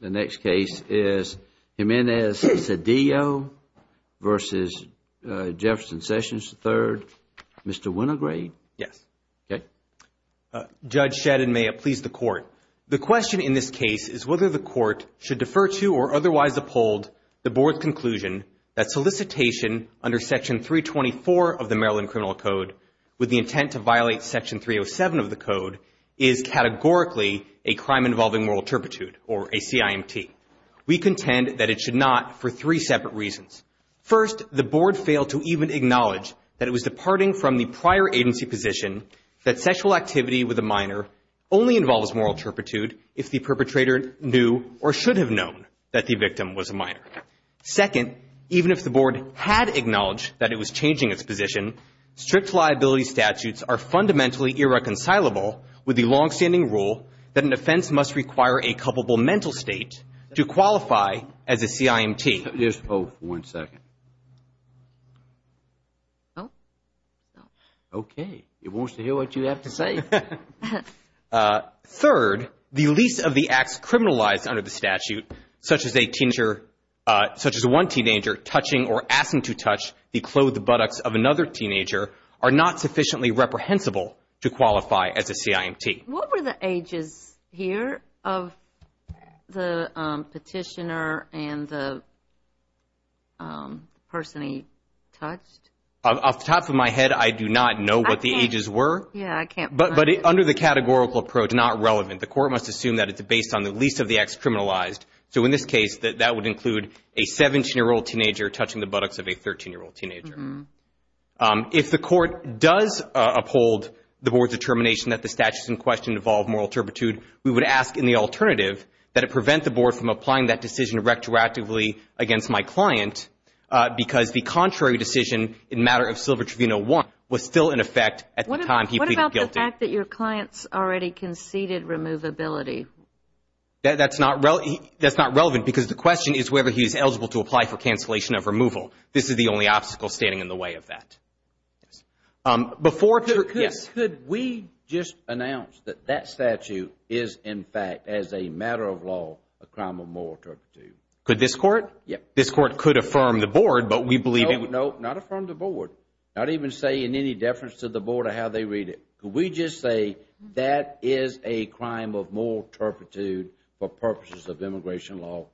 The next case is Jimenez-Cedillo v. Jefferson Sessions III. Mr. Winograde? Yes. Okay. Judge Shedden, may it please the Court. The question in this case is whether the Court should defer to or otherwise uphold the Board's conclusion that solicitation under Section 324 of the Maryland Criminal Code with the intent to violate Section 307 of the Code is categorically a crime involving moral turpitude or a CIMT. We contend that it should not for three separate reasons. First, the Board failed to even acknowledge that it was departing from the prior agency position that sexual activity with a minor only involves moral turpitude if the perpetrator knew or should have known that the victim was a minor. Second, even if the Board had acknowledged that it was changing its position, strict liability statutes are fundamentally irreconcilable with the longstanding rule that an offense must require a culpable mental state to qualify as a CIMT. Just hold for one second. Okay. It wants to hear what you have to say. Third, the lease of the acts criminalized under the statute, such as a teenager, such as one teenager touching or asking to touch the clothed buttocks of another teenager, are not sufficiently reprehensible to qualify as a CIMT. What were the ages here of the petitioner and the person he touched? Off the top of my head, I do not know what the ages were. Yeah, I can't find it. But under the categorical approach, not relevant. The Court must assume that it's based on the lease of the acts criminalized. So in this case, that would include a 17-year-old teenager touching the buttocks of a 13-year-old teenager. If the Court does uphold the Board's determination that the statutes in question involve moral turpitude, we would ask in the alternative that it prevent the Board from applying that decision retroactively against my client because the contrary decision in matter of Silver Tribunal 1 was still in effect at the time he pleaded guilty. What about the fact that your client's already conceded removability? That's not relevant because the question is whether he's eligible to apply for cancellation of removal. This is the only obstacle standing in the way of that. Could we just announce that that statute is, in fact, as a matter of law, a crime of moral turpitude? Could this Court? This Court could affirm the Board, but we believe it would... No, not affirm the Board. Not even say in any deference to the Board of how they read it. Could we just say that is a crime of moral turpitude for purposes of immigration law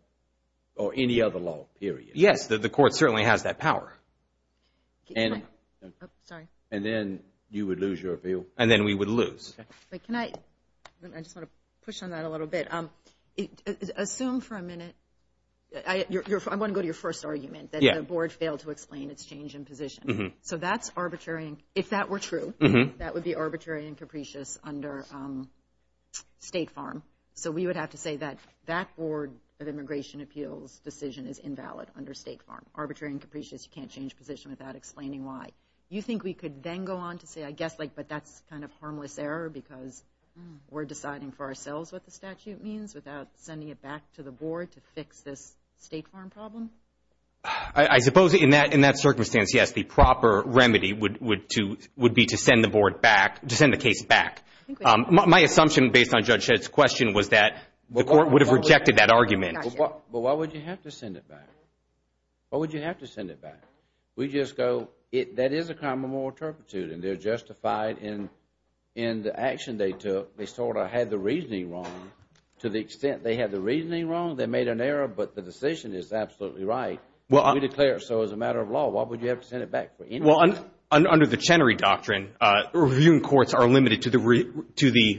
or any other law, period? Yes, the Court certainly has that power. And then you would lose your appeal? And then we would lose. Can I... I just want to push on that a little bit. Assume for a minute... I want to go to your first argument that the Board failed to explain its change in position. So that's arbitrary. If that were true, that would be arbitrary and capricious under State Farm. So we would have to say that that Board of Immigration Appeals decision is invalid under State Farm. Arbitrary and capricious. You can't change position without explaining why. You think we could then go on to say, I guess, like, but that's kind of harmless error because we're deciding for ourselves what the statute means without sending it back to the Board to fix this State Farm problem? I suppose in that circumstance, yes, the proper remedy would be to send the case back. My assumption, based on Judge Shedd's question, was that the Court would have rejected that argument. But why would you have to send it back? Why would you have to send it back? We just go, that is a crime of moral turpitude, and they're justified in the action they took. They sort of had the reasoning wrong. To the extent they had the reasoning wrong, they made an error, but the decision is absolutely right. We declare it so as a matter of law. Why would you have to send it back? Well, under the Chenery Doctrine, reviewing courts are limited to the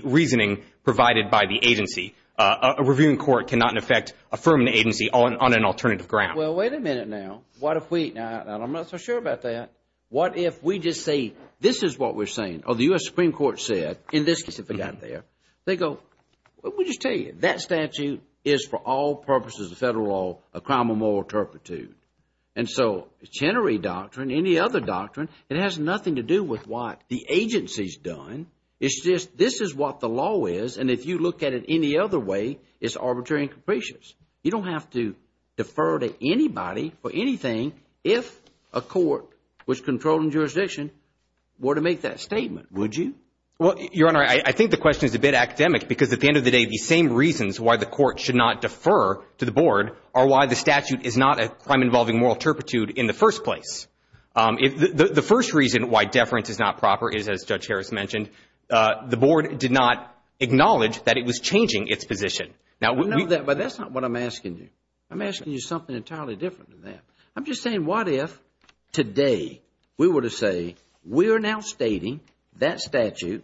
reasoning provided by the agency. A reviewing court cannot, in effect, affirm an agency on an alternative ground. Well, wait a minute now. What if we, now, I'm not so sure about that. What if we just say, this is what we're saying, or the U.S. Supreme Court said, in this case, if it got there, they go, we'll just tell you, that statute is, for all purposes of federal law, a crime of moral turpitude. And so, Chenery Doctrine, any other doctrine, it has nothing to do with what the agency's done. It's just, this is what the law is, and if you look at it any other way, it's arbitrary and capricious. You don't have to defer to anybody for anything if a court was controlling jurisdiction were to make that statement. Would you? Well, Your Honor, I think the question is a bit academic because, at the end of the day, the same reasons why the court should not defer to the board are why the statute is not a crime involving moral turpitude in the first place. The first reason why deference is not proper is, as Judge Harris mentioned, the board did not acknowledge that it was changing its position. Now, we know that, but that's not what I'm asking you. I'm asking you something entirely different than that. I'm just saying, what if today we were to say, we're now stating that statute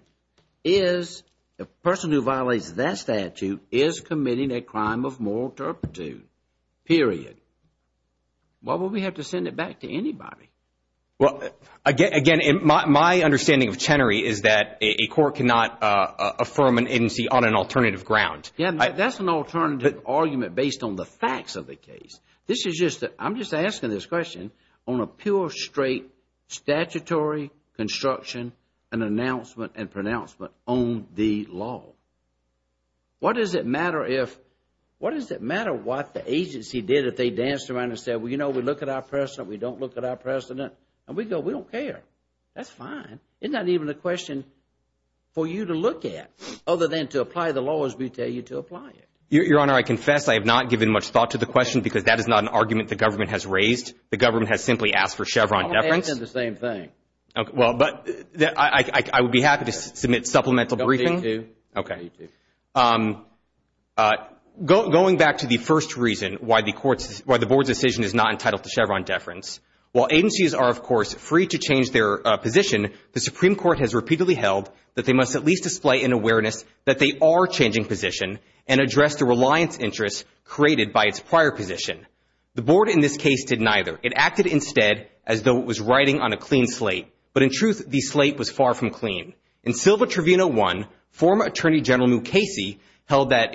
is, the person who violates that statute is committing a crime of moral turpitude, period. Why would we have to send it back to anybody? Well, again, my understanding of Chenery is that a court cannot affirm an agency on an alternative ground. Yeah, that's an alternative argument based on the facts of the case. This is just, I'm just asking this question on a pure, straight statutory construction and announcement and pronouncement on the law. What does it matter if, what does it matter what the agency did if they danced around and said, well, you know, we look at our precedent, we don't look at our precedent, and we go, we don't care. That's fine. It's not even a question for you to look at other than to apply the law as we tell you to apply it. Your Honor, I confess I have not given much thought to the question because that is not an argument the government has raised. The government has simply asked for Chevron deference. I want to answer the same thing. Well, but, I would be happy to submit supplemental briefing. Okay. Going back to the first reason why the board's decision is not entitled to Chevron deference, while agencies are, of course, free to change their position, the Supreme Court has repeatedly held that they must at least display an awareness that they are changing position and address the reliance interest created by its prior position. The board in this case did neither. It acted instead as though it was writing on a clean slate. But in truth, the slate was far from clean. In Silva Trivino 1, former Attorney General Mukasey held that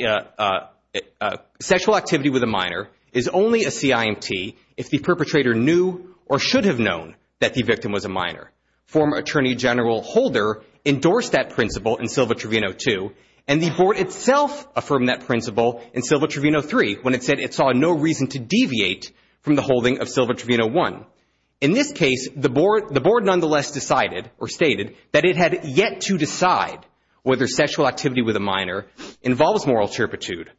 sexual activity with a minor is only a CIMT if the perpetrator knew or should have known that the victim was a minor. Former Attorney General Holder endorsed that principle in Silva Trivino 2 and the board itself affirmed that principle in Silva Trivino 3 when it said it saw no reason to deviate from the holding of Silva Trivino 1. In this case, the board nonetheless decided, or stated, that it had yet to decide whether sexual activity with a minor involves moral turpitude,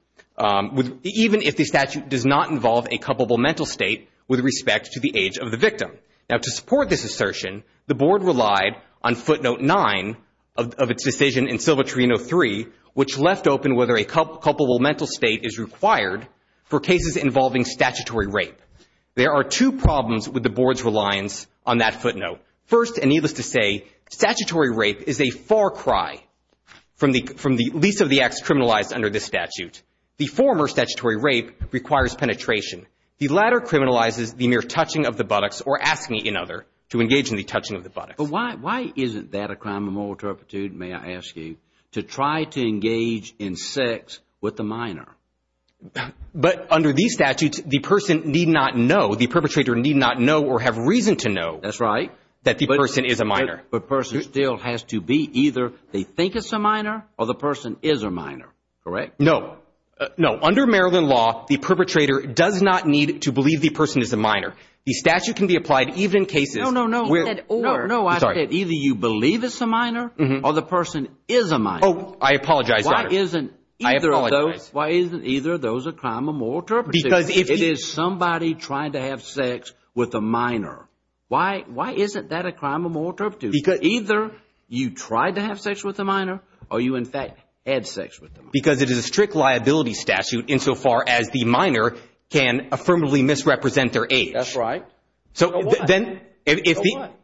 even if the statute does not involve a culpable mental state with respect to the age of the victim. Now, to support this assertion, the board relied on footnote 9 of its decision in Silva Trivino 3, which left open whether a culpable mental state is required for cases involving statutory rape. There are two problems with the board's reliance on that footnote. First, and needless to say, statutory rape is a far cry from the least of the acts criminalized under this statute. The former statutory rape requires penetration. The latter criminalizes the mere touching of the buttocks or asking another to engage in the touching of the buttocks. But why isn't that a crime of moral turpitude, may I ask you, to try to engage in sex with a minor? But under these statutes, the person need not know, the perpetrator need not know or have reason to know that the person is a minor. But the person still has to be either they think it's a minor or the person is a minor, correct? No. No. Under Maryland law, the perpetrator does not need to believe the person is a minor. The statute can be applied even in cases where... No, no, no. He said or. No, no. I said either you believe it's a minor or the person is a minor. Oh, I apologize. Why isn't either of those a crime of moral turpitude? Because if it is somebody trying to have sex with a minor, why isn't that a crime of moral turpitude? Because... Either you tried to have sex with a minor or you, in fact, had sex with a minor. Because it is a strict liability statute insofar as the minor can affirmatively misrepresent their age. That's right. So then... So what?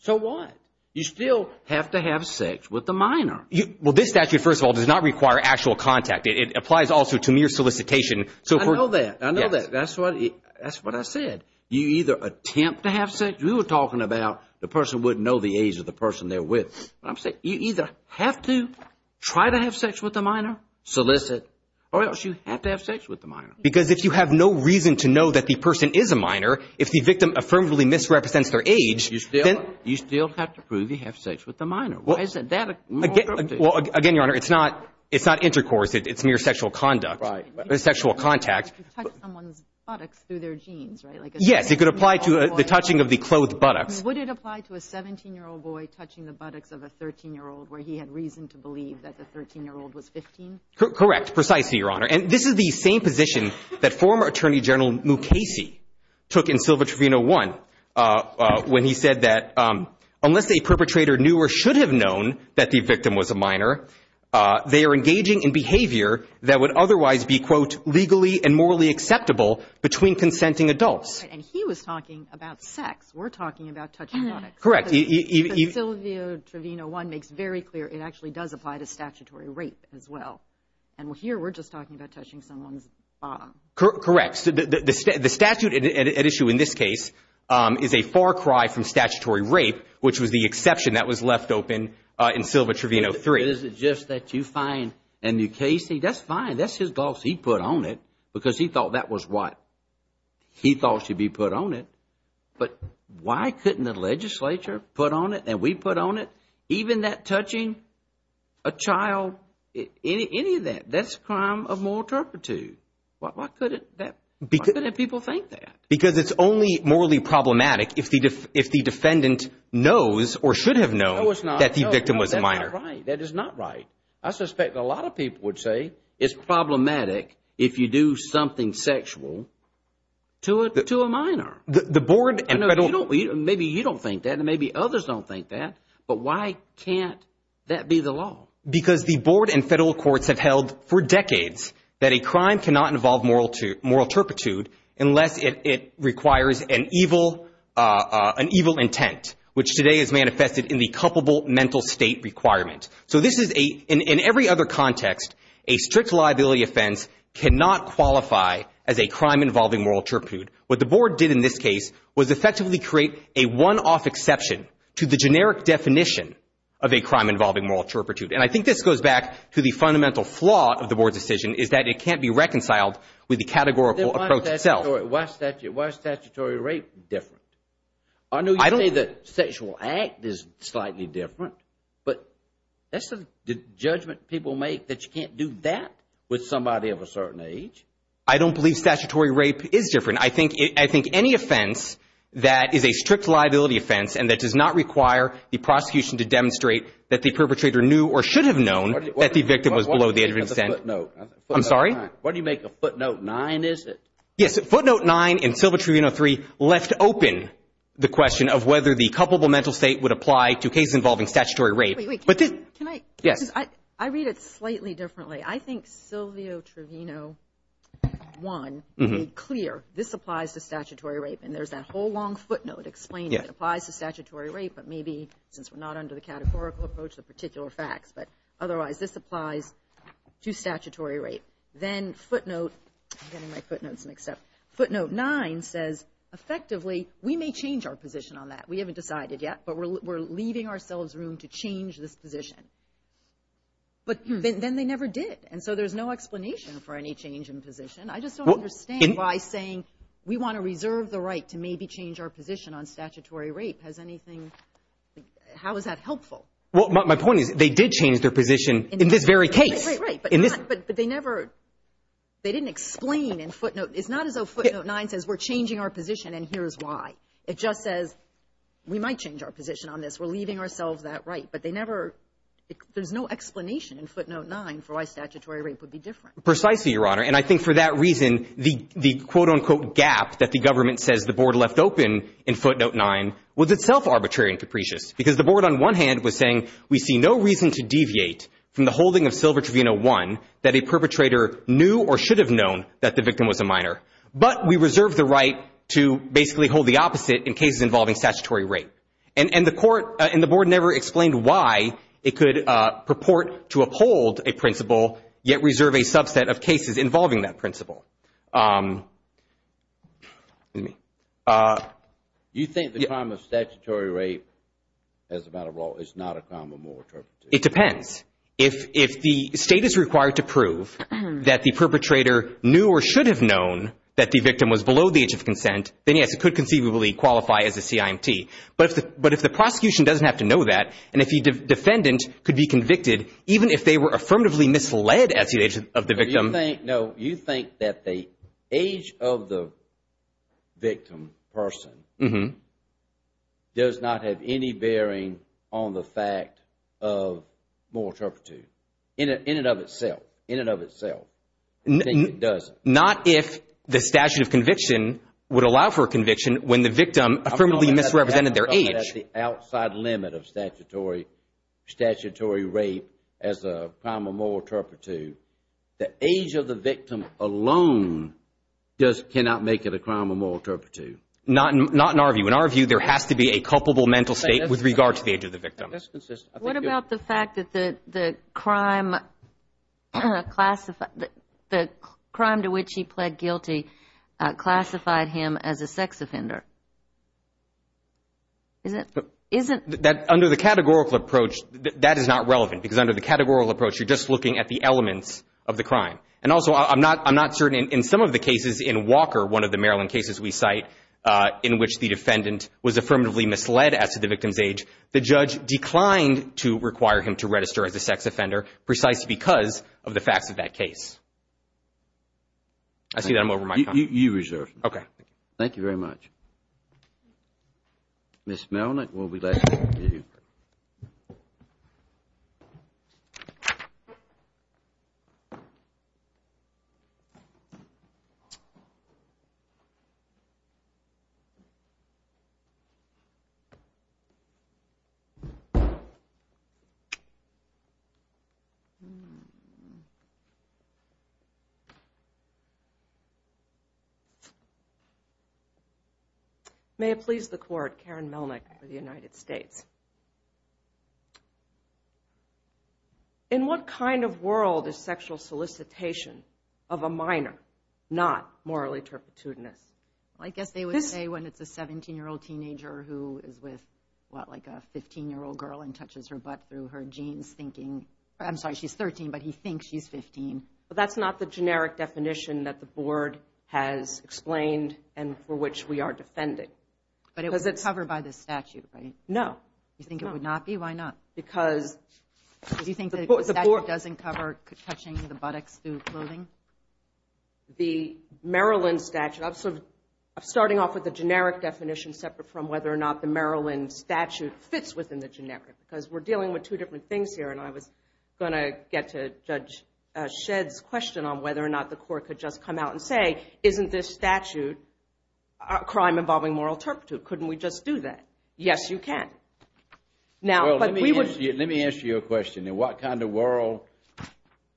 So what? You still have to have sex with the minor. Well, this statute, first of all, does not require actual contact. It applies also to mere solicitation. I know that. I know that. That's what I said. You either attempt to have sex. We were talking about the person wouldn't know the age of the person they're with. You either have to try to have sex with the minor, solicit, or else you have to have sex with the minor. Because if you have no reason to know that the person is a minor, if the victim affirmatively misrepresents their age, then... You still have to prove you have sex with the minor. Why isn't that a moral turpitude? Well, again, Your Honor, it's not intercourse. It's mere sexual conduct. Right. Sexual contact. You could touch someone's buttocks through their jeans, right? Yes, it could apply to the touching of the clothed buttocks. Would it apply to a 17-year-old boy touching the buttocks of a 13-year-old where he had reason to believe that the 13-year-old was 15? Correct. Precisely, Your Honor. And this is the same position that former Attorney General Mukasey took in Silva Trevino 1, when he said that unless a perpetrator knew or should have known that the victim was a minor, they are engaging in behavior that would otherwise be, quote, legally and morally acceptable between consenting adults. And he was talking about sex. We're talking about touching buttocks. Correct. But Silva Trevino 1 makes very clear it actually does apply to statutory rape as well. And here we're just talking about touching someone's bottom. Correct. So the statute at issue in this case is a far cry from statutory rape, which was the exception that was left open in Silva Trevino 3. Is it just that you find in Mukasey, that's fine, that's his golf, he put on it, because he thought that was what? He thought it should be put on it. But why couldn't the legislature put on it and we put on it? Even that touching a child, any of that, that's a crime of moral turpitude. Why couldn't people think that? Because it's only morally problematic if the defendant knows or should have known that the victim was a minor. That is not right. I suspect a lot of people would say it's problematic if you do something sexual to a minor. Maybe you don't think that and maybe others don't think that, but why can't that be the law? Because the board and federal courts have held for decades that a crime cannot involve moral turpitude unless it requires an evil intent, which today is manifested in the culpable mental state requirement. So this is a, in every other context, a strict liability offense cannot qualify as a crime involving moral turpitude. What the board did in this case was effectively create a one-off exception to the generic definition of a crime involving moral turpitude. And I think this goes back to the fundamental flaw of the board's decision is that it can't be reconciled with the categorical approach itself. Why is statutory rape different? I know you say that sexual act is slightly different, but that's a judgment people make that you can't do that with somebody of a certain age. I don't believe statutory rape is different. I think any offense that is a strict liability offense and that does not require the prosecution to demonstrate that the perpetrator knew or should have known that the victim was below the age of 10. What do you make of footnote 9? Yes, footnote 9 in Silvio Trevino 3 left open the question of whether the culpable mental state would apply to cases involving statutory rape. Wait, wait, can I? Yes. I read it slightly differently. I think Silvio Trevino 1 made clear this applies to statutory rape. And there's that whole long footnote explaining it applies to statutory rape, but maybe since we're not under the categorical approach, the particular facts. But otherwise, this applies to statutory rape. Then footnote, I'm getting my footnotes mixed up. Footnote 9 says effectively we may change our position on that. We haven't decided yet, but we're leaving ourselves room to change this position. But then they never did. And so there's no explanation for any change in position. I just don't understand why saying we want to reserve the right to maybe change our position on statutory rape has anything, how is that helpful? Well, my point is they did change their position in this very case. But they never, they didn't explain in footnote. It's not as though footnote 9 says we're changing our position and here's why. It just says we might change our position on this. We're leaving ourselves that right, but they never, there's no explanation in footnote 9 for why statutory rape would be different. Precisely, Your Honor. And I think for that reason, the quote unquote gap that the government says the board left open in footnote 9 was itself arbitrary and capricious. Because the board on one hand was saying we see no reason to deviate from the holding of Silver Trivino 1 that a perpetrator knew or should have known that the victim was a minor. But we reserve the right to basically hold the opposite in cases involving statutory rape. And the court, and the board never explained why it could purport to uphold a principle yet reserve a subset of cases involving that principle. You think the crime of statutory rape as a matter of law is not a crime of moral interpretation? It depends. If the state is required to prove that the perpetrator knew or should have known that the victim was below the age of consent, then yes, it could conceivably qualify as a CIMT. But if the prosecution doesn't have to know that, and if the defendant could be convicted, even if they were affirmatively misled at the age of the victim. No, you think that the age of the victim, person, does not have any bearing on the fact of moral interpretation? In and of itself. In and of itself. You think it doesn't? Not if the statute of conviction would allow for a conviction when the victim affirmatively misrepresented their age. I'm talking about the outside limit of statutory rape as a crime of moral interpretation. The age of the victim alone just cannot make it a crime of moral interpretation. Not in our view. In our view, there has to be a culpable mental state with regard to the age of the victim. What about the fact that the crime to which he pled guilty classified him as a sex offender? Under the categorical approach, that is not relevant. Because under the categorical approach, you're just looking at the elements of the crime. And also, I'm not certain in some of the cases in Walker, one of the Maryland cases we cite, in which the defendant was affirmatively misled as to the victim's age, the judge declined to require him to register as a sex offender precisely because of the facts of that case. I see that I'm over my time. You reserve. Okay. Thank you very much. Ms. Melnick, we'll be left with you. Thank you. May it please the Court, Karen Melnick for the United States. In what kind of world is sexual solicitation of a minor not morally turpitudinous? I guess they would say when it's a 17-year-old teenager who is with, what, like a 15-year-old girl and touches her butt through her jeans, thinking, I'm sorry, she's 13, but he thinks she's 15. But that's not the generic definition that the Board has explained and for which we are defending. But it was covered by the statute, right? No. You think it would not be? Why not? Because the Board – Do you think the statute doesn't cover touching the buttocks through clothing? The Maryland statute – I'm sort of starting off with the generic definition separate from whether or not the Maryland statute fits within the generic because we're dealing with two different things here. And I was going to get to Judge Shedd's question on whether or not the Court could just come out and say, isn't this statute a crime involving moral turpitude? Couldn't we just do that? Yes, you can. Well, let me answer your question. In what kind of world,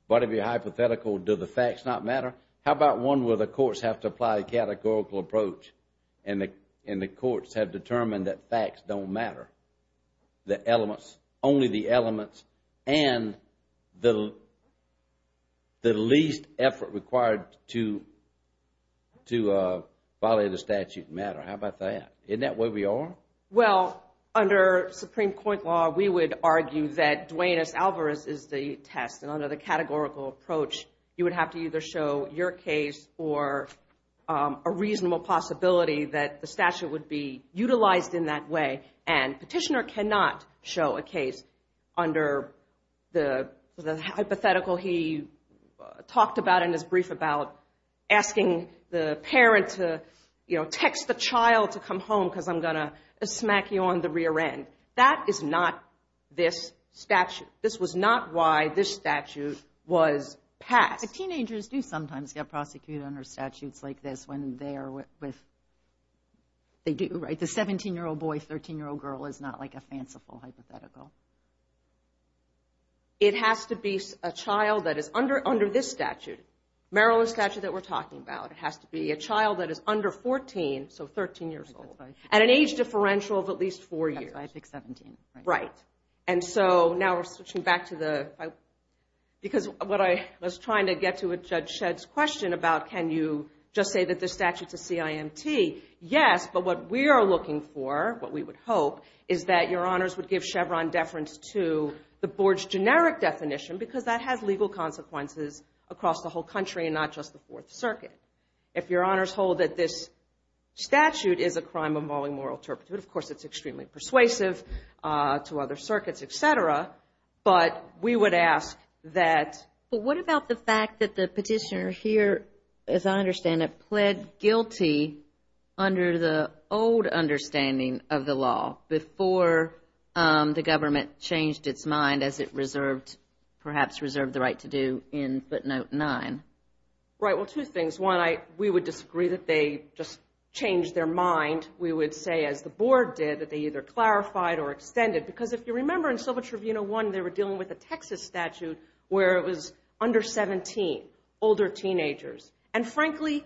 might it be hypothetical, do the facts not matter? How about one where the courts have to apply a categorical approach and the courts have determined that facts don't matter, the elements, only the elements, and the least effort required to violate a statute matter. How about that? Isn't that where we are? Well, under Supreme Court law, we would argue that Duane S. Alvarez is the test. And under the categorical approach, you would have to either show your case or a reasonable possibility that the statute would be utilized in that way. And Petitioner cannot show a case under the hypothetical he talked about and is brief about asking the parent to, you know, text the child to come home because I'm going to smack you on the rear end. That is not this statute. This was not why this statute was passed. But teenagers do sometimes get prosecuted under statutes like this when they are with, they do, right? The 17-year-old boy, 13-year-old girl is not like a fanciful hypothetical. It has to be a child that is under this statute, Maryland statute that we're talking about. It has to be a child that is under 14, so 13 years old, and an age differential of at least four years. That's why I picked 17. Right. And so now we're switching back to the, because what I was trying to get to with Judge Shedd's question about can you just say that this statute's a CIMT, yes, but what we are looking for, what we would hope, is that Your Honors would give Chevron deference to the board's generic definition because that has legal consequences across the whole country and not just the Fourth Circuit. If Your Honors hold that this statute is a crime involving moral turpitude, of course it's extremely persuasive to other circuits, et cetera, but we would ask that- But what about the fact that the petitioner here, as I understand it, pled guilty under the old understanding of the law, before the government changed its mind as it perhaps reserved the right to do in footnote 9. Right. Well, two things. One, we would disagree that they just changed their mind. We would say, as the board did, that they either clarified or extended because if you remember in Sylvia Trevino 1, they were dealing with a Texas statute where it was under 17, older teenagers. And frankly,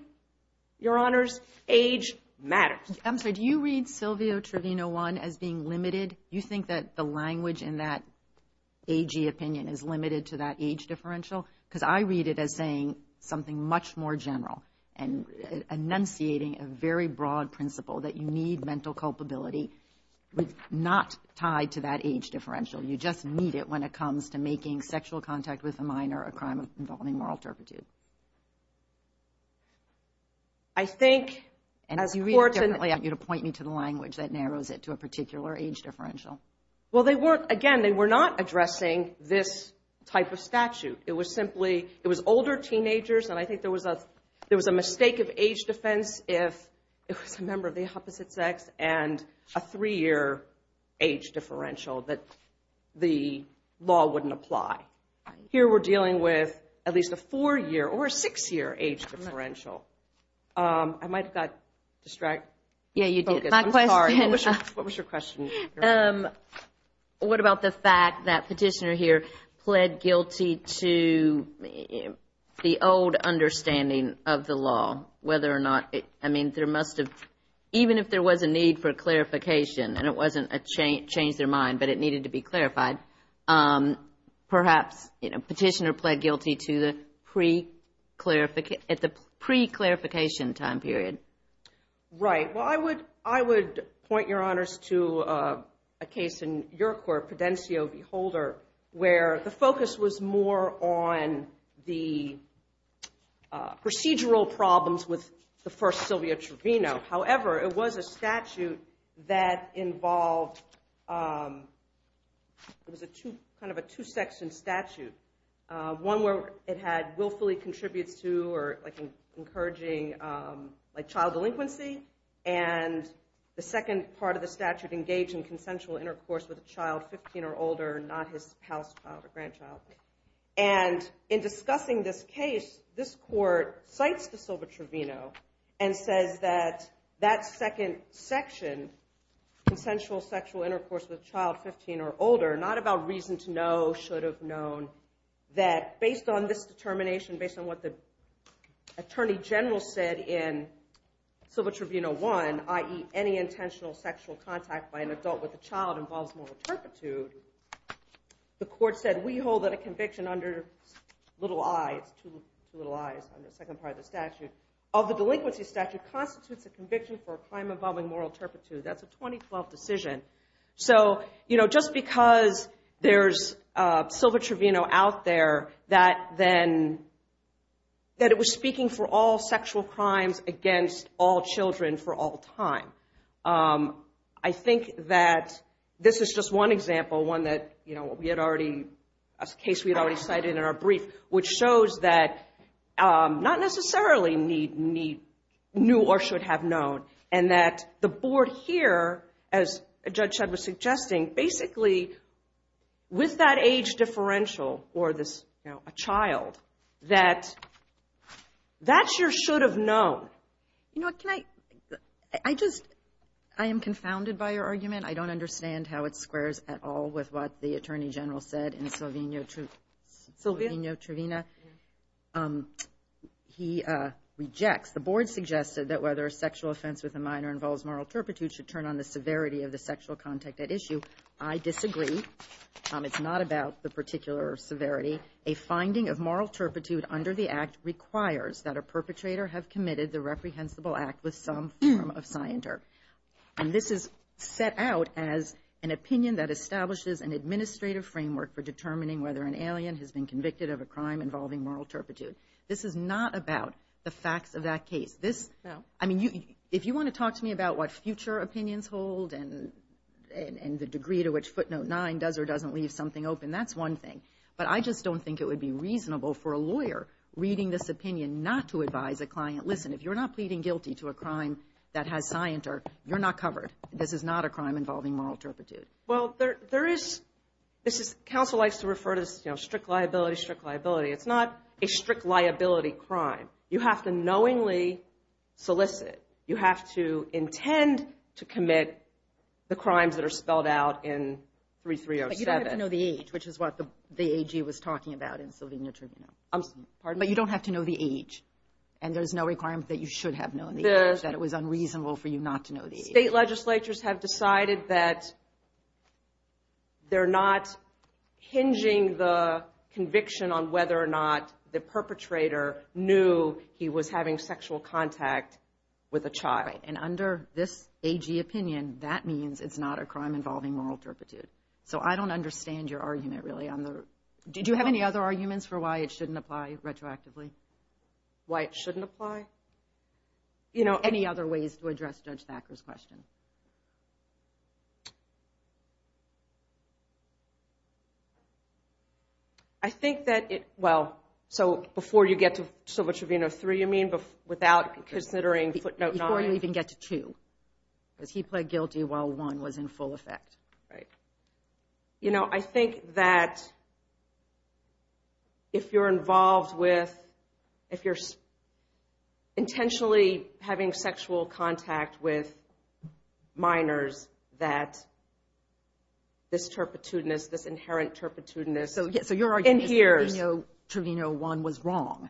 Your Honors, age matters. I'm sorry, do you read Sylvia Trevino 1 as being limited? You think that the language in that AG opinion is limited to that age differential? Because I read it as saying something much more general and enunciating a very broad principle that you need mental culpability not tied to that age differential. You just need it when it comes to making sexual contact with a minor a crime involving moral turpitude. I think as courts... And if you read it differently, I want you to point me to the language that narrows it to a particular age differential. Well, they weren't, again, they were not addressing this type of statute. It was simply, it was older teenagers and I think there was a mistake of age defense if it was a member of the opposite sex and a three-year age differential that the law wouldn't apply. Here we're dealing with at least a four-year or a six-year age differential. I might have got distracted. Yeah, you did. I'm sorry, what was your question? What about the fact that Petitioner here pled guilty to the old understanding of the law, whether or not, I mean, there must have, even if there was a need for clarification and it wasn't a change their mind, but it needed to be clarified, perhaps Petitioner pled guilty to the pre-clarification time period. Right. Well, I would point your honors to a case in your court, Pedencio v. Holder, where the focus was more on the procedural problems with the first Sylvia Trevino. However, it was a statute that involved, it was kind of a two-section statute. One where it had willfully contributes to or encouraging child delinquency and the second part of the statute engaged in consensual intercourse with a child 15 or older, not his house child or grandchild. And in discussing this case, this court cites the Sylvia Trevino and says that that second section, consensual sexual intercourse with child 15 or older, not about reason to know, should have known, that based on this determination, based on what the attorney general said in Sylvia Trevino 1, i.e. any intentional sexual contact by an adult with a child involves moral turpitude, the court said, we hold that a conviction under little i, it's two little i's in the second part of the statute, of the delinquency statute, constitutes a conviction for a crime involving moral turpitude. That's a 2012 decision. So, you know, just because there's Sylvia Trevino out there, that then, that it was speaking for all sexual crimes against all children for all time. I think that this is just one example, one that, you know, we had already, a case we had already cited in our brief, which shows that not necessarily need, knew or should have known, and that the board here, as Judge Shedd was suggesting, basically with that age differential or this, you know, a child, that that's your should have known. You know, can I, I just, I am confounded by your argument. I don't understand how it squares at all with what the Attorney General said in Sylvia Trevino. He rejects, the board suggested that whether a sexual offense with a minor involves moral turpitude should turn on the severity of the sexual contact at issue. I disagree. It's not about the particular severity. A finding of moral turpitude under the act requires that a perpetrator have committed the reprehensible act with some form of scienter. And this is set out as an opinion that establishes an administrative framework for determining whether an alien has been convicted of a crime involving moral turpitude. This is not about the facts of that case. This, I mean, if you want to talk to me about what future opinions hold and the degree to which footnote nine does or doesn't leave something open, that's one thing. But I just don't think it would be reasonable for a lawyer reading this opinion not to advise a client, listen, if you're not pleading guilty to a crime that has scienter, you're not covered. This is not a crime involving moral turpitude. Well, there is, this is, counsel likes to refer to this, you know, strict liability, strict liability. It's not a strict liability crime. You have to knowingly solicit. You have to intend to commit the crimes that are spelled out in 3307. But you don't have to know the age, which is what the AG was talking about in Sylvia Trevino. I'm sorry, pardon me? But you don't have to know the age. And there's no requirement that you should have known the age, that it was unreasonable for you not to know the age. State legislatures have decided that they're not hinging the conviction on whether or not the perpetrator knew he was having sexual contact with a child. And under this AG opinion, that means it's not a crime involving moral turpitude. So I don't understand your argument, really. Did you have any other arguments for why it shouldn't apply retroactively? Why it shouldn't apply? Any other ways to address Judge Thacker's question? I think that it, well, so before you get to Sylvia Trevino, three you mean, without considering footnote nine? Before you even get to two. Because he pled guilty while one was in full effect. Right. You know, I think that if you're involved with, if you're intentionally having sexual contact with minors, that this turpitudinous, this inherent turpitudinous. So your argument is Trevino one was wrong.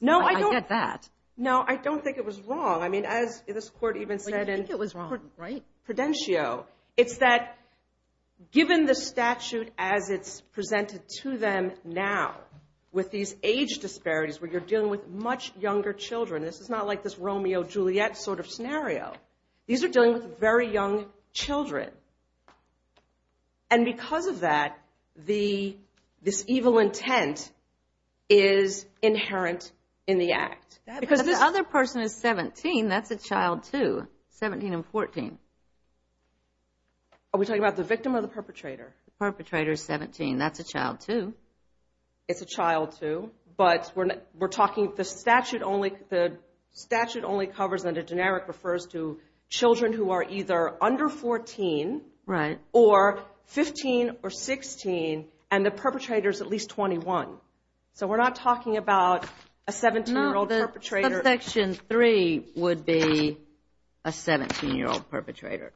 No, I don't. I get that. No, I don't think it was wrong. I mean, as this court even said in Prudentio, it's that given the statute as it's presented to them now, with these age disparities where you're dealing with much younger children, this is not like this Romeo-Juliet sort of scenario. These are dealing with very young children. And because of that, this evil intent is inherent in the act. Because the other person is 17, that's a child too, 17 and 14. Are we talking about the victim or the perpetrator? The perpetrator is 17, that's a child too. It's a child too, but we're talking, the statute only covers, and the generic refers to children who are either under 14. Right. Or 15 or 16, and the perpetrator is at least 21. So we're not talking about a 17-year-old perpetrator. Section 3 would be a 17-year-old perpetrator.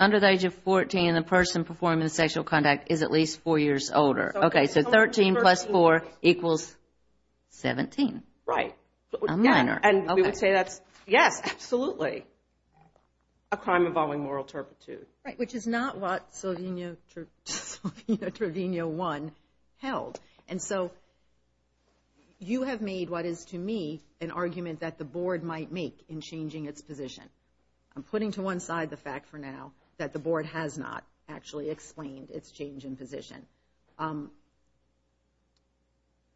Under the age of 14, a person performing sexual conduct is at least 4 years older. Okay, so 13 plus 4 equals 17. Right. A minor. Yes, absolutely. A crime involving moral turpitude. Right, which is not what Sylvina Trevino I held. And so you have made what is to me an argument that the Board might make in changing its position. I'm putting to one side the fact for now that the Board has not actually explained its change in position.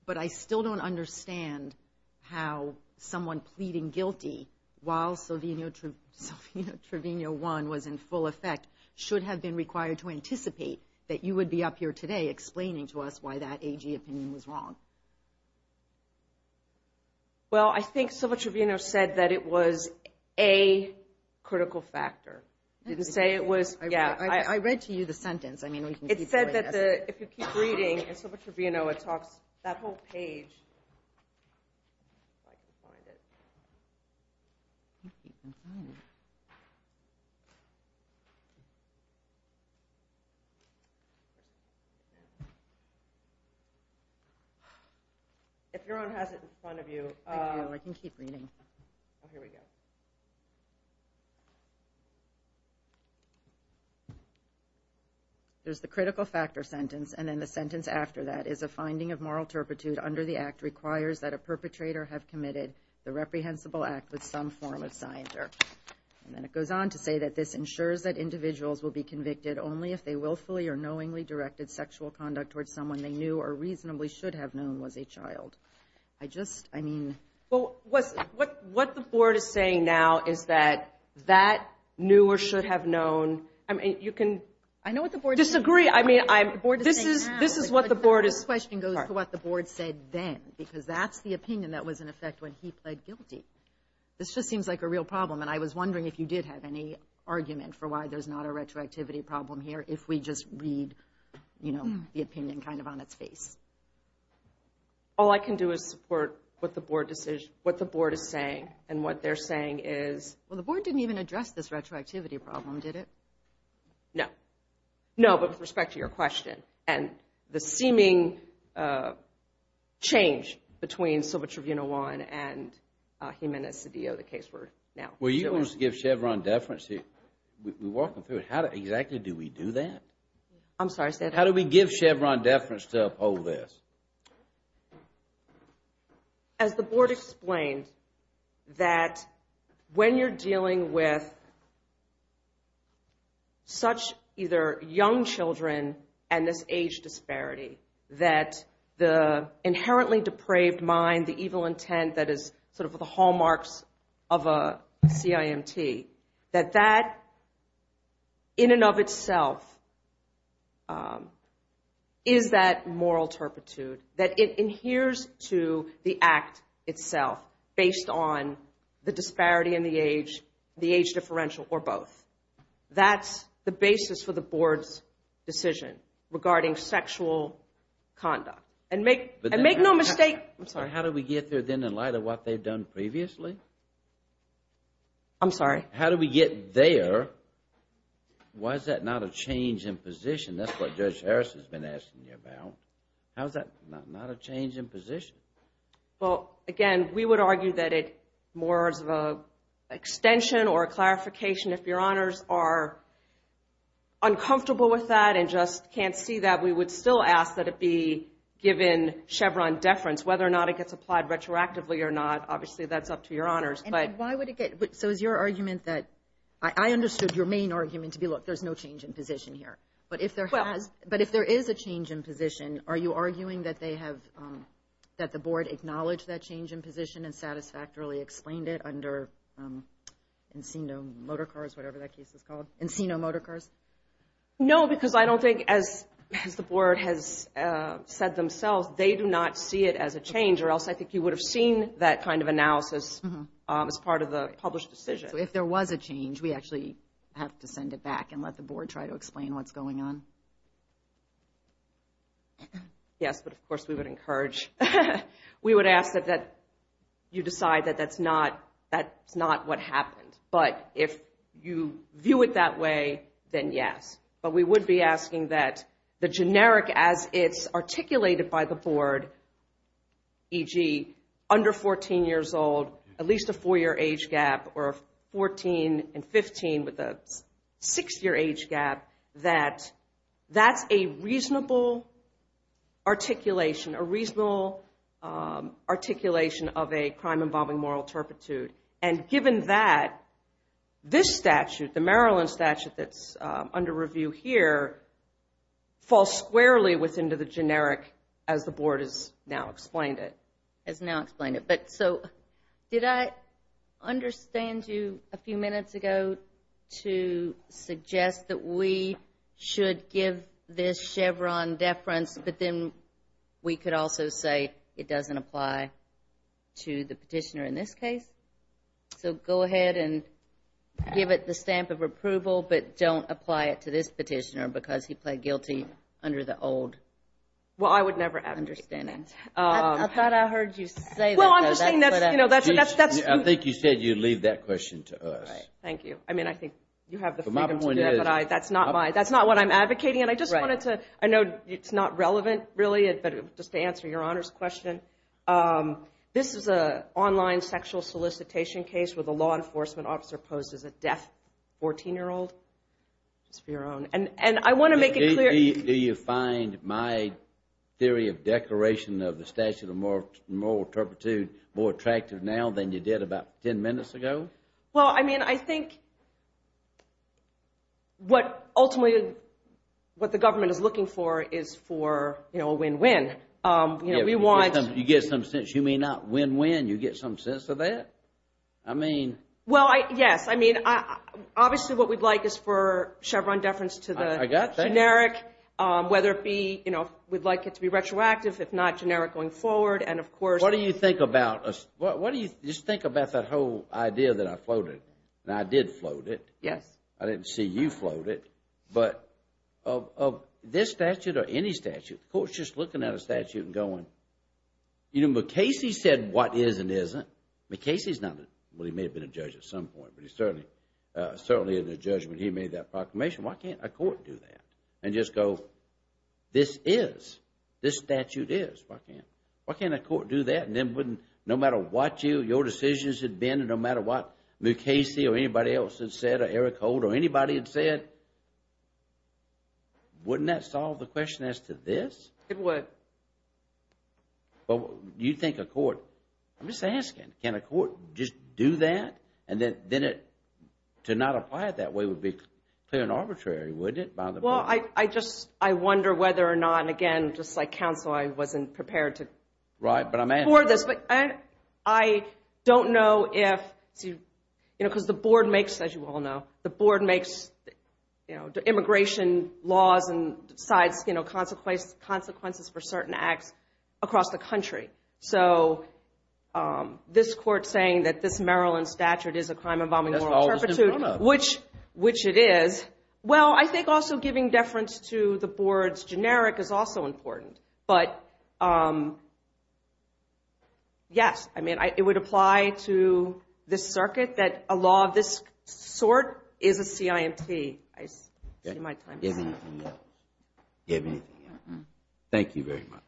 But I still don't understand how someone pleading guilty, while Sylvina Trevino I was in full effect, should have been required to anticipate that you would be up here today explaining to us why that AG opinion was wrong. Well, I think Sylvina Trevino said that it was a critical factor. I read to you the sentence. It said that if you keep reading, and Sylvina Trevino talks, that whole page. If everyone has it in front of you. I can keep reading. Here we go. There's the critical factor sentence. And then the sentence after that is, a finding of moral turpitude under the act requires that a perpetrator have committed the reprehensible act with some form of scienter. And then it goes on to say that this ensures that individuals will be convicted only if they willfully or knowingly directed sexual conduct towards someone they knew or reasonably should have known was a child. I just, I mean. What the Board is saying now is that that knew or should have known. I mean, you can disagree. I mean, this is what the Board is. The question goes to what the Board said then. Because that's the opinion that was in effect when he pled guilty. This just seems like a real problem. And I was wondering if you did have any argument for why there's not a retroactivity problem here if we just read, you know, the opinion kind of on its face. All I can do is support what the Board is saying. And what they're saying is. Well, the Board didn't even address this retroactivity problem, did it? No. No, but with respect to your question. And the seeming change between Silva Tribunal 1 and Jimenez-Cedillo, the case we're now dealing with. Well, you want us to give Chevron deference? We're walking through it. How exactly do we do that? I'm sorry. How do we give Chevron deference to uphold this? As the Board explained, that when you're dealing with such either young children and this age disparity, that the inherently depraved mind, the evil intent that is sort of the hallmarks of a CIMT, that that in and of itself is that moral turpitude, that it adheres to the act itself based on the disparity in the age, the age differential, or both. That's the basis for the Board's decision regarding sexual conduct. And make no mistake. I'm sorry. How do we get there then in light of what they've done previously? I'm sorry. How do we get there? Why is that not a change in position? That's what Judge Harris has been asking you about. How is that not a change in position? Well, again, we would argue that it more as an extension or a clarification if Your Honors are uncomfortable with that and just can't see that, we would still ask that it be given Chevron deference. Whether or not it gets applied retroactively or not, obviously that's up to Your Honors. So is your argument that – I understood your main argument to be, look, there's no change in position here. But if there is a change in position, are you arguing that they have – that the Board acknowledged that change in position and satisfactorily explained it under Encino Motorcars, whatever that case is called, Encino Motorcars? No, because I don't think, as the Board has said themselves, they do not see it as a change or else I think you would have seen that kind of analysis as part of the published decision. So if there was a change, we actually have to send it back and let the Board try to explain what's going on? Yes, but of course we would encourage – we would ask that you decide that that's not what happened. But if you view it that way, then yes. But we would be asking that the generic as it's articulated by the Board, e.g. under 14 years old, at least a four-year age gap, or 14 and 15 with a six-year age gap, that that's a reasonable articulation, a reasonable articulation of a crime involving moral turpitude. And given that, this statute, the Maryland statute that's under review here, falls squarely within the generic as the Board has now explained it. Has now explained it. So did I understand you a few minutes ago to suggest that we should give this Chevron deference but then we could also say it doesn't apply to the petitioner in this case? So go ahead and give it the stamp of approval but don't apply it to this petitioner because he pled guilty under the old understanding. Well, I would never – I thought I heard you say that. Well, I'm just saying that's – I think you said you'd leave that question to us. Thank you. I mean, I think you have the freedom to do that, but that's not what I'm advocating. And I just wanted to – I know it's not relevant, really, but just to answer Your Honor's question, this is an online sexual solicitation case where the law enforcement officer posed as a deaf 14-year-old. Just for Your Honor. And I want to make it clear – Do you find my theory of declaration of the statute of moral turpitude more attractive now than you did about 10 minutes ago? Well, I mean, I think what ultimately – what the government is looking for is for a win-win. We want – You get some sense. You may not win-win. You get some sense of that. I mean – Well, yes. I mean, obviously what we'd like is for Chevron deference to the generic, whether it be, you know, we'd like it to be retroactive, if not generic going forward, and of course – What do you think about – What do you – Just think about that whole idea that I floated. Now, I did float it. Yes. I didn't see you float it. But of this statute or any statute, the Court's just looking at a statute and going, you know, McCasey said what is and isn't. McCasey's not – Well, he may have been a judge at some point, but he's certainly in the judgment. He made that proclamation. Why can't a court do that and just go, this is, this statute is? Why can't a court do that? And then wouldn't – No matter what your decisions had been and no matter what McCasey or anybody else had said or Eric Holt or anybody had said, wouldn't that solve the question as to this? It would. But you think a court – I'm just asking. Can a court just do that? And then it – to not apply it that way would be clear and arbitrary, wouldn't it, by the – Well, I just, I wonder whether or not, and again, just like counsel, I wasn't prepared to – Right, but I'm asking. – for this. But I don't know if – you know, because the Board makes, as you all know, the Board makes, you know, immigration laws and decides, you know, consequences for certain acts across the country. So this Court saying that this Maryland statute is a crime involving – That's all it's in front of. Which it is. Well, I think also giving deference to the Board's generic is also important. But, yes. I mean, it would apply to this circuit that a law of this sort is a CIMT. I see my time is up. Give me a minute. Give me a minute. Thank you very much.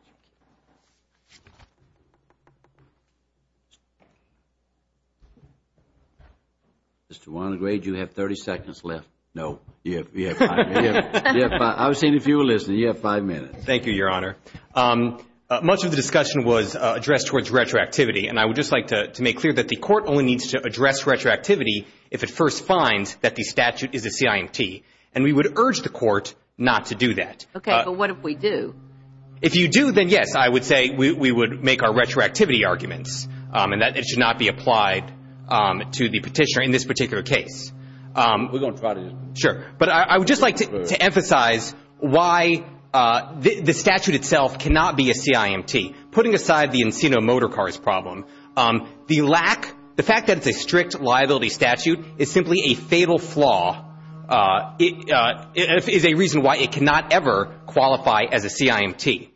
Mr. Wannegrade, you have 30 seconds left. No. You have five minutes. I was saying if you were listening, you have five minutes. Thank you, Your Honor. Much of the discussion was addressed towards retroactivity. And I would just like to make clear that the Court only needs to address retroactivity if it first finds that the statute is a CIMT. And we would urge the Court not to do that. it a CIMT. But if you don't, then, yes, I would say that we should not make our retroactivity arguments and that it should not be applied to the petitioner in this particular case. We're going to try to. Sure. But I would just like to emphasize why the statute itself cannot be a CIMT. Putting aside the Encino Motor Cars problem, the lack, the fact that it's a strict liability statute is simply a fatal flaw. It is a reason why it cannot ever qualify as a CIMT.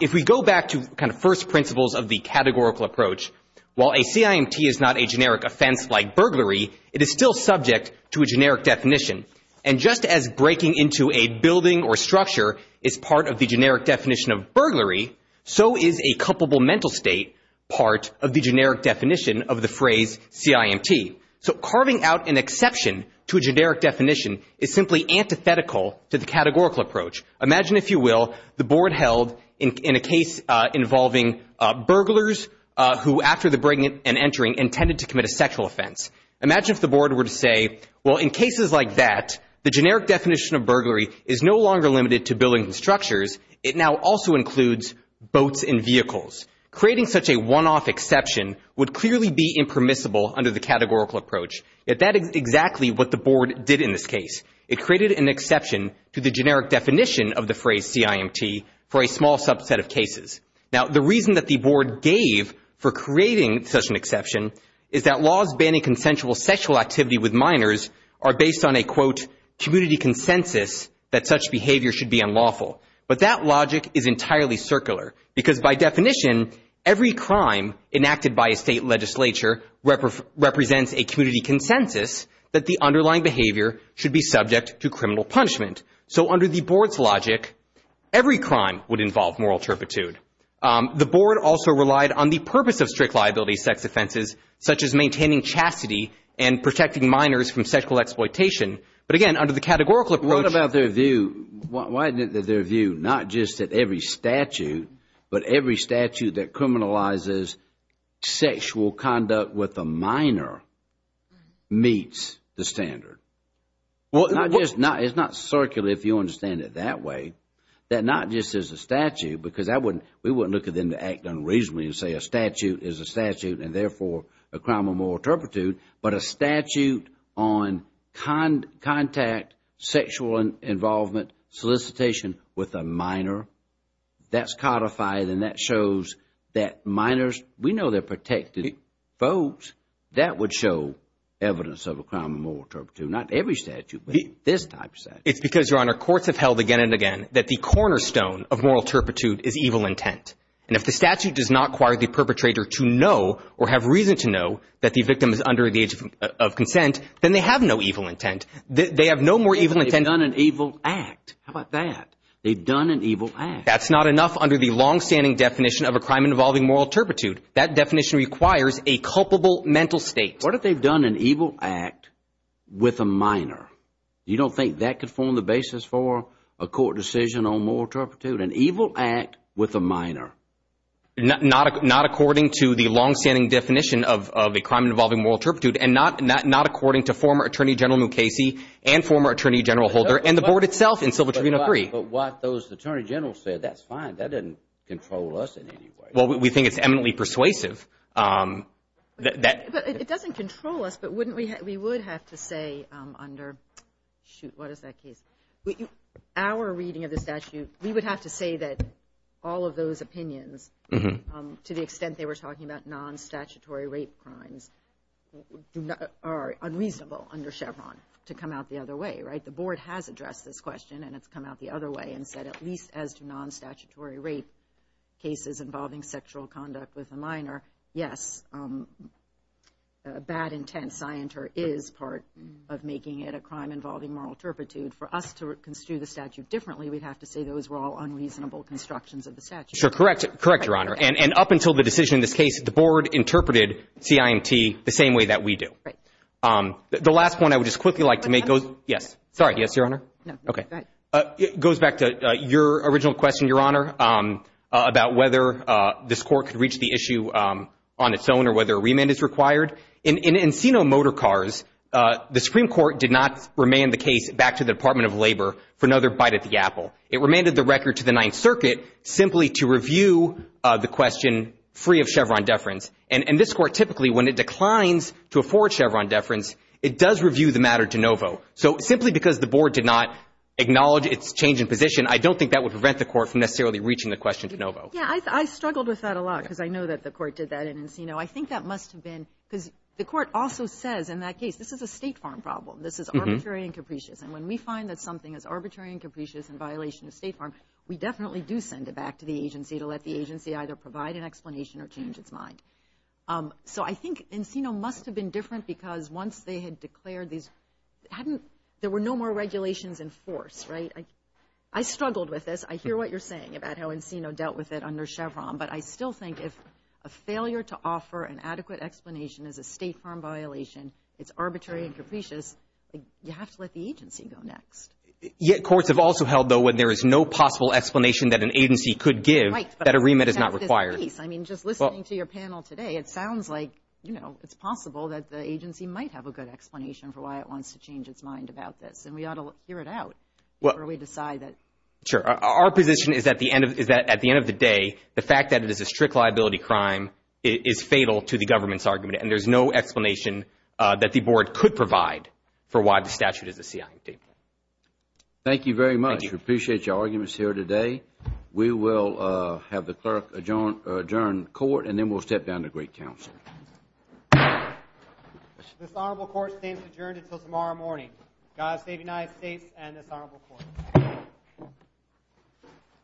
If we go back to kind of first principles of the categorical approach, while a CIMT is not a generic offense like burglary, it is still subject to a generic definition. And just as breaking into a building or structure is part of the generic definition of burglary, so is a culpable mental state part of the generic definition of the phrase CIMT. So carving out an exception to a generic definition is simply antithetical to the categorical approach. Imagine, if you will, the board held in a case involving burglars who, after the breaking and entering, intended to commit a sexual offense. Imagine if the board were to say, well, in cases like that, the generic definition of burglary is no longer limited to buildings and structures. It now also includes boats and vehicles. Creating such a one-off exception would clearly be impermissible under the categorical approach. Yet that is exactly what the board did in this case. It created an exception to the generic definition of the phrase CIMT for a small subset of cases. Now, the reason that the board gave for creating such an exception is that laws banning consensual sexual activity with minors are based on a, quote, community consensus that such behavior should be unlawful. But that logic is entirely circular, because by definition, every crime enacted by a state legislature represents a community consensus that the underlying behavior should be subject to criminal punishment. So under the board's logic, every crime would involve moral turpitude. The board also relied on the purpose of strict liability sex offenses, such as maintaining chastity and protecting minors from sexual exploitation. But again, under the categorical approach... What about their view? Why isn't it that their view, not just at every statute, but every statute that criminalizes sexual conduct with a minor, meets the standard? It's not circular, if you understand it that way, that not just as a statute, because we wouldn't look at them to act unreasonably and say a statute is a statute and therefore a crime of moral turpitude, but a statute on contact, sexual involvement, solicitation with a minor. That's codified and that shows that minors, we know they're protected folks, that would show evidence of a crime of moral turpitude. Not every statute, but this type of statute. It's because, Your Honor, courts have held again and again that the cornerstone of moral turpitude is evil intent. And if the statute does not require the perpetrator to know or have reason to know that the victim is under the age of consent, then they have no evil intent. They have no more evil intent... They've done an evil act. How about that? They've done an evil act. That's not enough under the long-standing definition of a crime involving moral turpitude. That definition requires a culpable mental state. What if they've done an evil act with a minor? You don't think that could form the basis for a court decision on moral turpitude? An evil act with a minor. Not according to the long-standing definition of a crime involving moral turpitude and not according to former Attorney General Mukasey and former Attorney General Holder and the Board itself in Civil Tribunal 3. But what those Attorney Generals said, that's fine. That doesn't control us in any way. Well, we think it's eminently persuasive. It doesn't control us, but we would have to say under... Shoot, what is that case? Our reading of the statute, we would have to say that all of those opinions, to the extent they were talking about non-statutory rape crimes, are unreasonable under Chevron to come out the other way, right? The Board has addressed this question and it's come out the other way and said at least as to non-statutory rape cases involving sexual conduct with a minor, yes, a bad intent scienter is part of making it a crime involving moral turpitude. For us to construe the statute differently, we'd have to say those were all unreasonable constructions of the statute. Sure, correct. Correct, Your Honor. And up until the decision in this case, the Board interpreted CIMT the same way that we do. Right. The last point I would just quickly like to make... Yes. Sorry. Yes, Your Honor. Okay. It goes back to your original question, Your Honor, about whether this Court could reach the issue on its own or whether a remand is required. In Encino Motor Cars, the Supreme Court did not remand the case back to the Department of Labor for another bite at the apple. It remanded the record to the Ninth Circuit simply to review the question free of Chevron deference. And this Court typically, when it declines to afford Chevron deference, it does review the matter de novo. So simply because the Board did not acknowledge its change in position, I don't think that would prevent the Court from necessarily reaching the question de novo. Yeah, I struggled with that a lot because I know that the Court did that in Encino. I think that must have been... Because the Court also says in that case, this is a State Farm problem. This is arbitrary and capricious. And when we find that something is arbitrary and capricious in violation of State Farm, we definitely do send it back to the agency to let the agency either provide an explanation or change its mind. So I think Encino must have been different because once they had declared these... There were no more regulations in force, right? I struggled with this. I hear what you're saying about how Encino dealt with it under Chevron. But I still think if a failure to offer an adequate explanation is a State Farm violation, it's arbitrary and capricious, you have to let the agency go next. Yet courts have also held, though, when there is no possible explanation that an agency could give, that a remit is not required. I mean, just listening to your panel today, it sounds like, you know, it's possible that the agency might have a good explanation for why it wants to change its mind about this. And we ought to hear it out before we decide that. Sure. Our position is that at the end of the day, the fact that it is a strict liability crime is fatal to the government's argument. And there's no explanation that the Board could provide for why the statute is a CIT. Thank you very much. We appreciate your arguments here today. We will have the Clerk adjourn the Court, and then we'll step down to Great Council. This Honorable Court stays adjourned until tomorrow morning. God save the United States and this Honorable Court.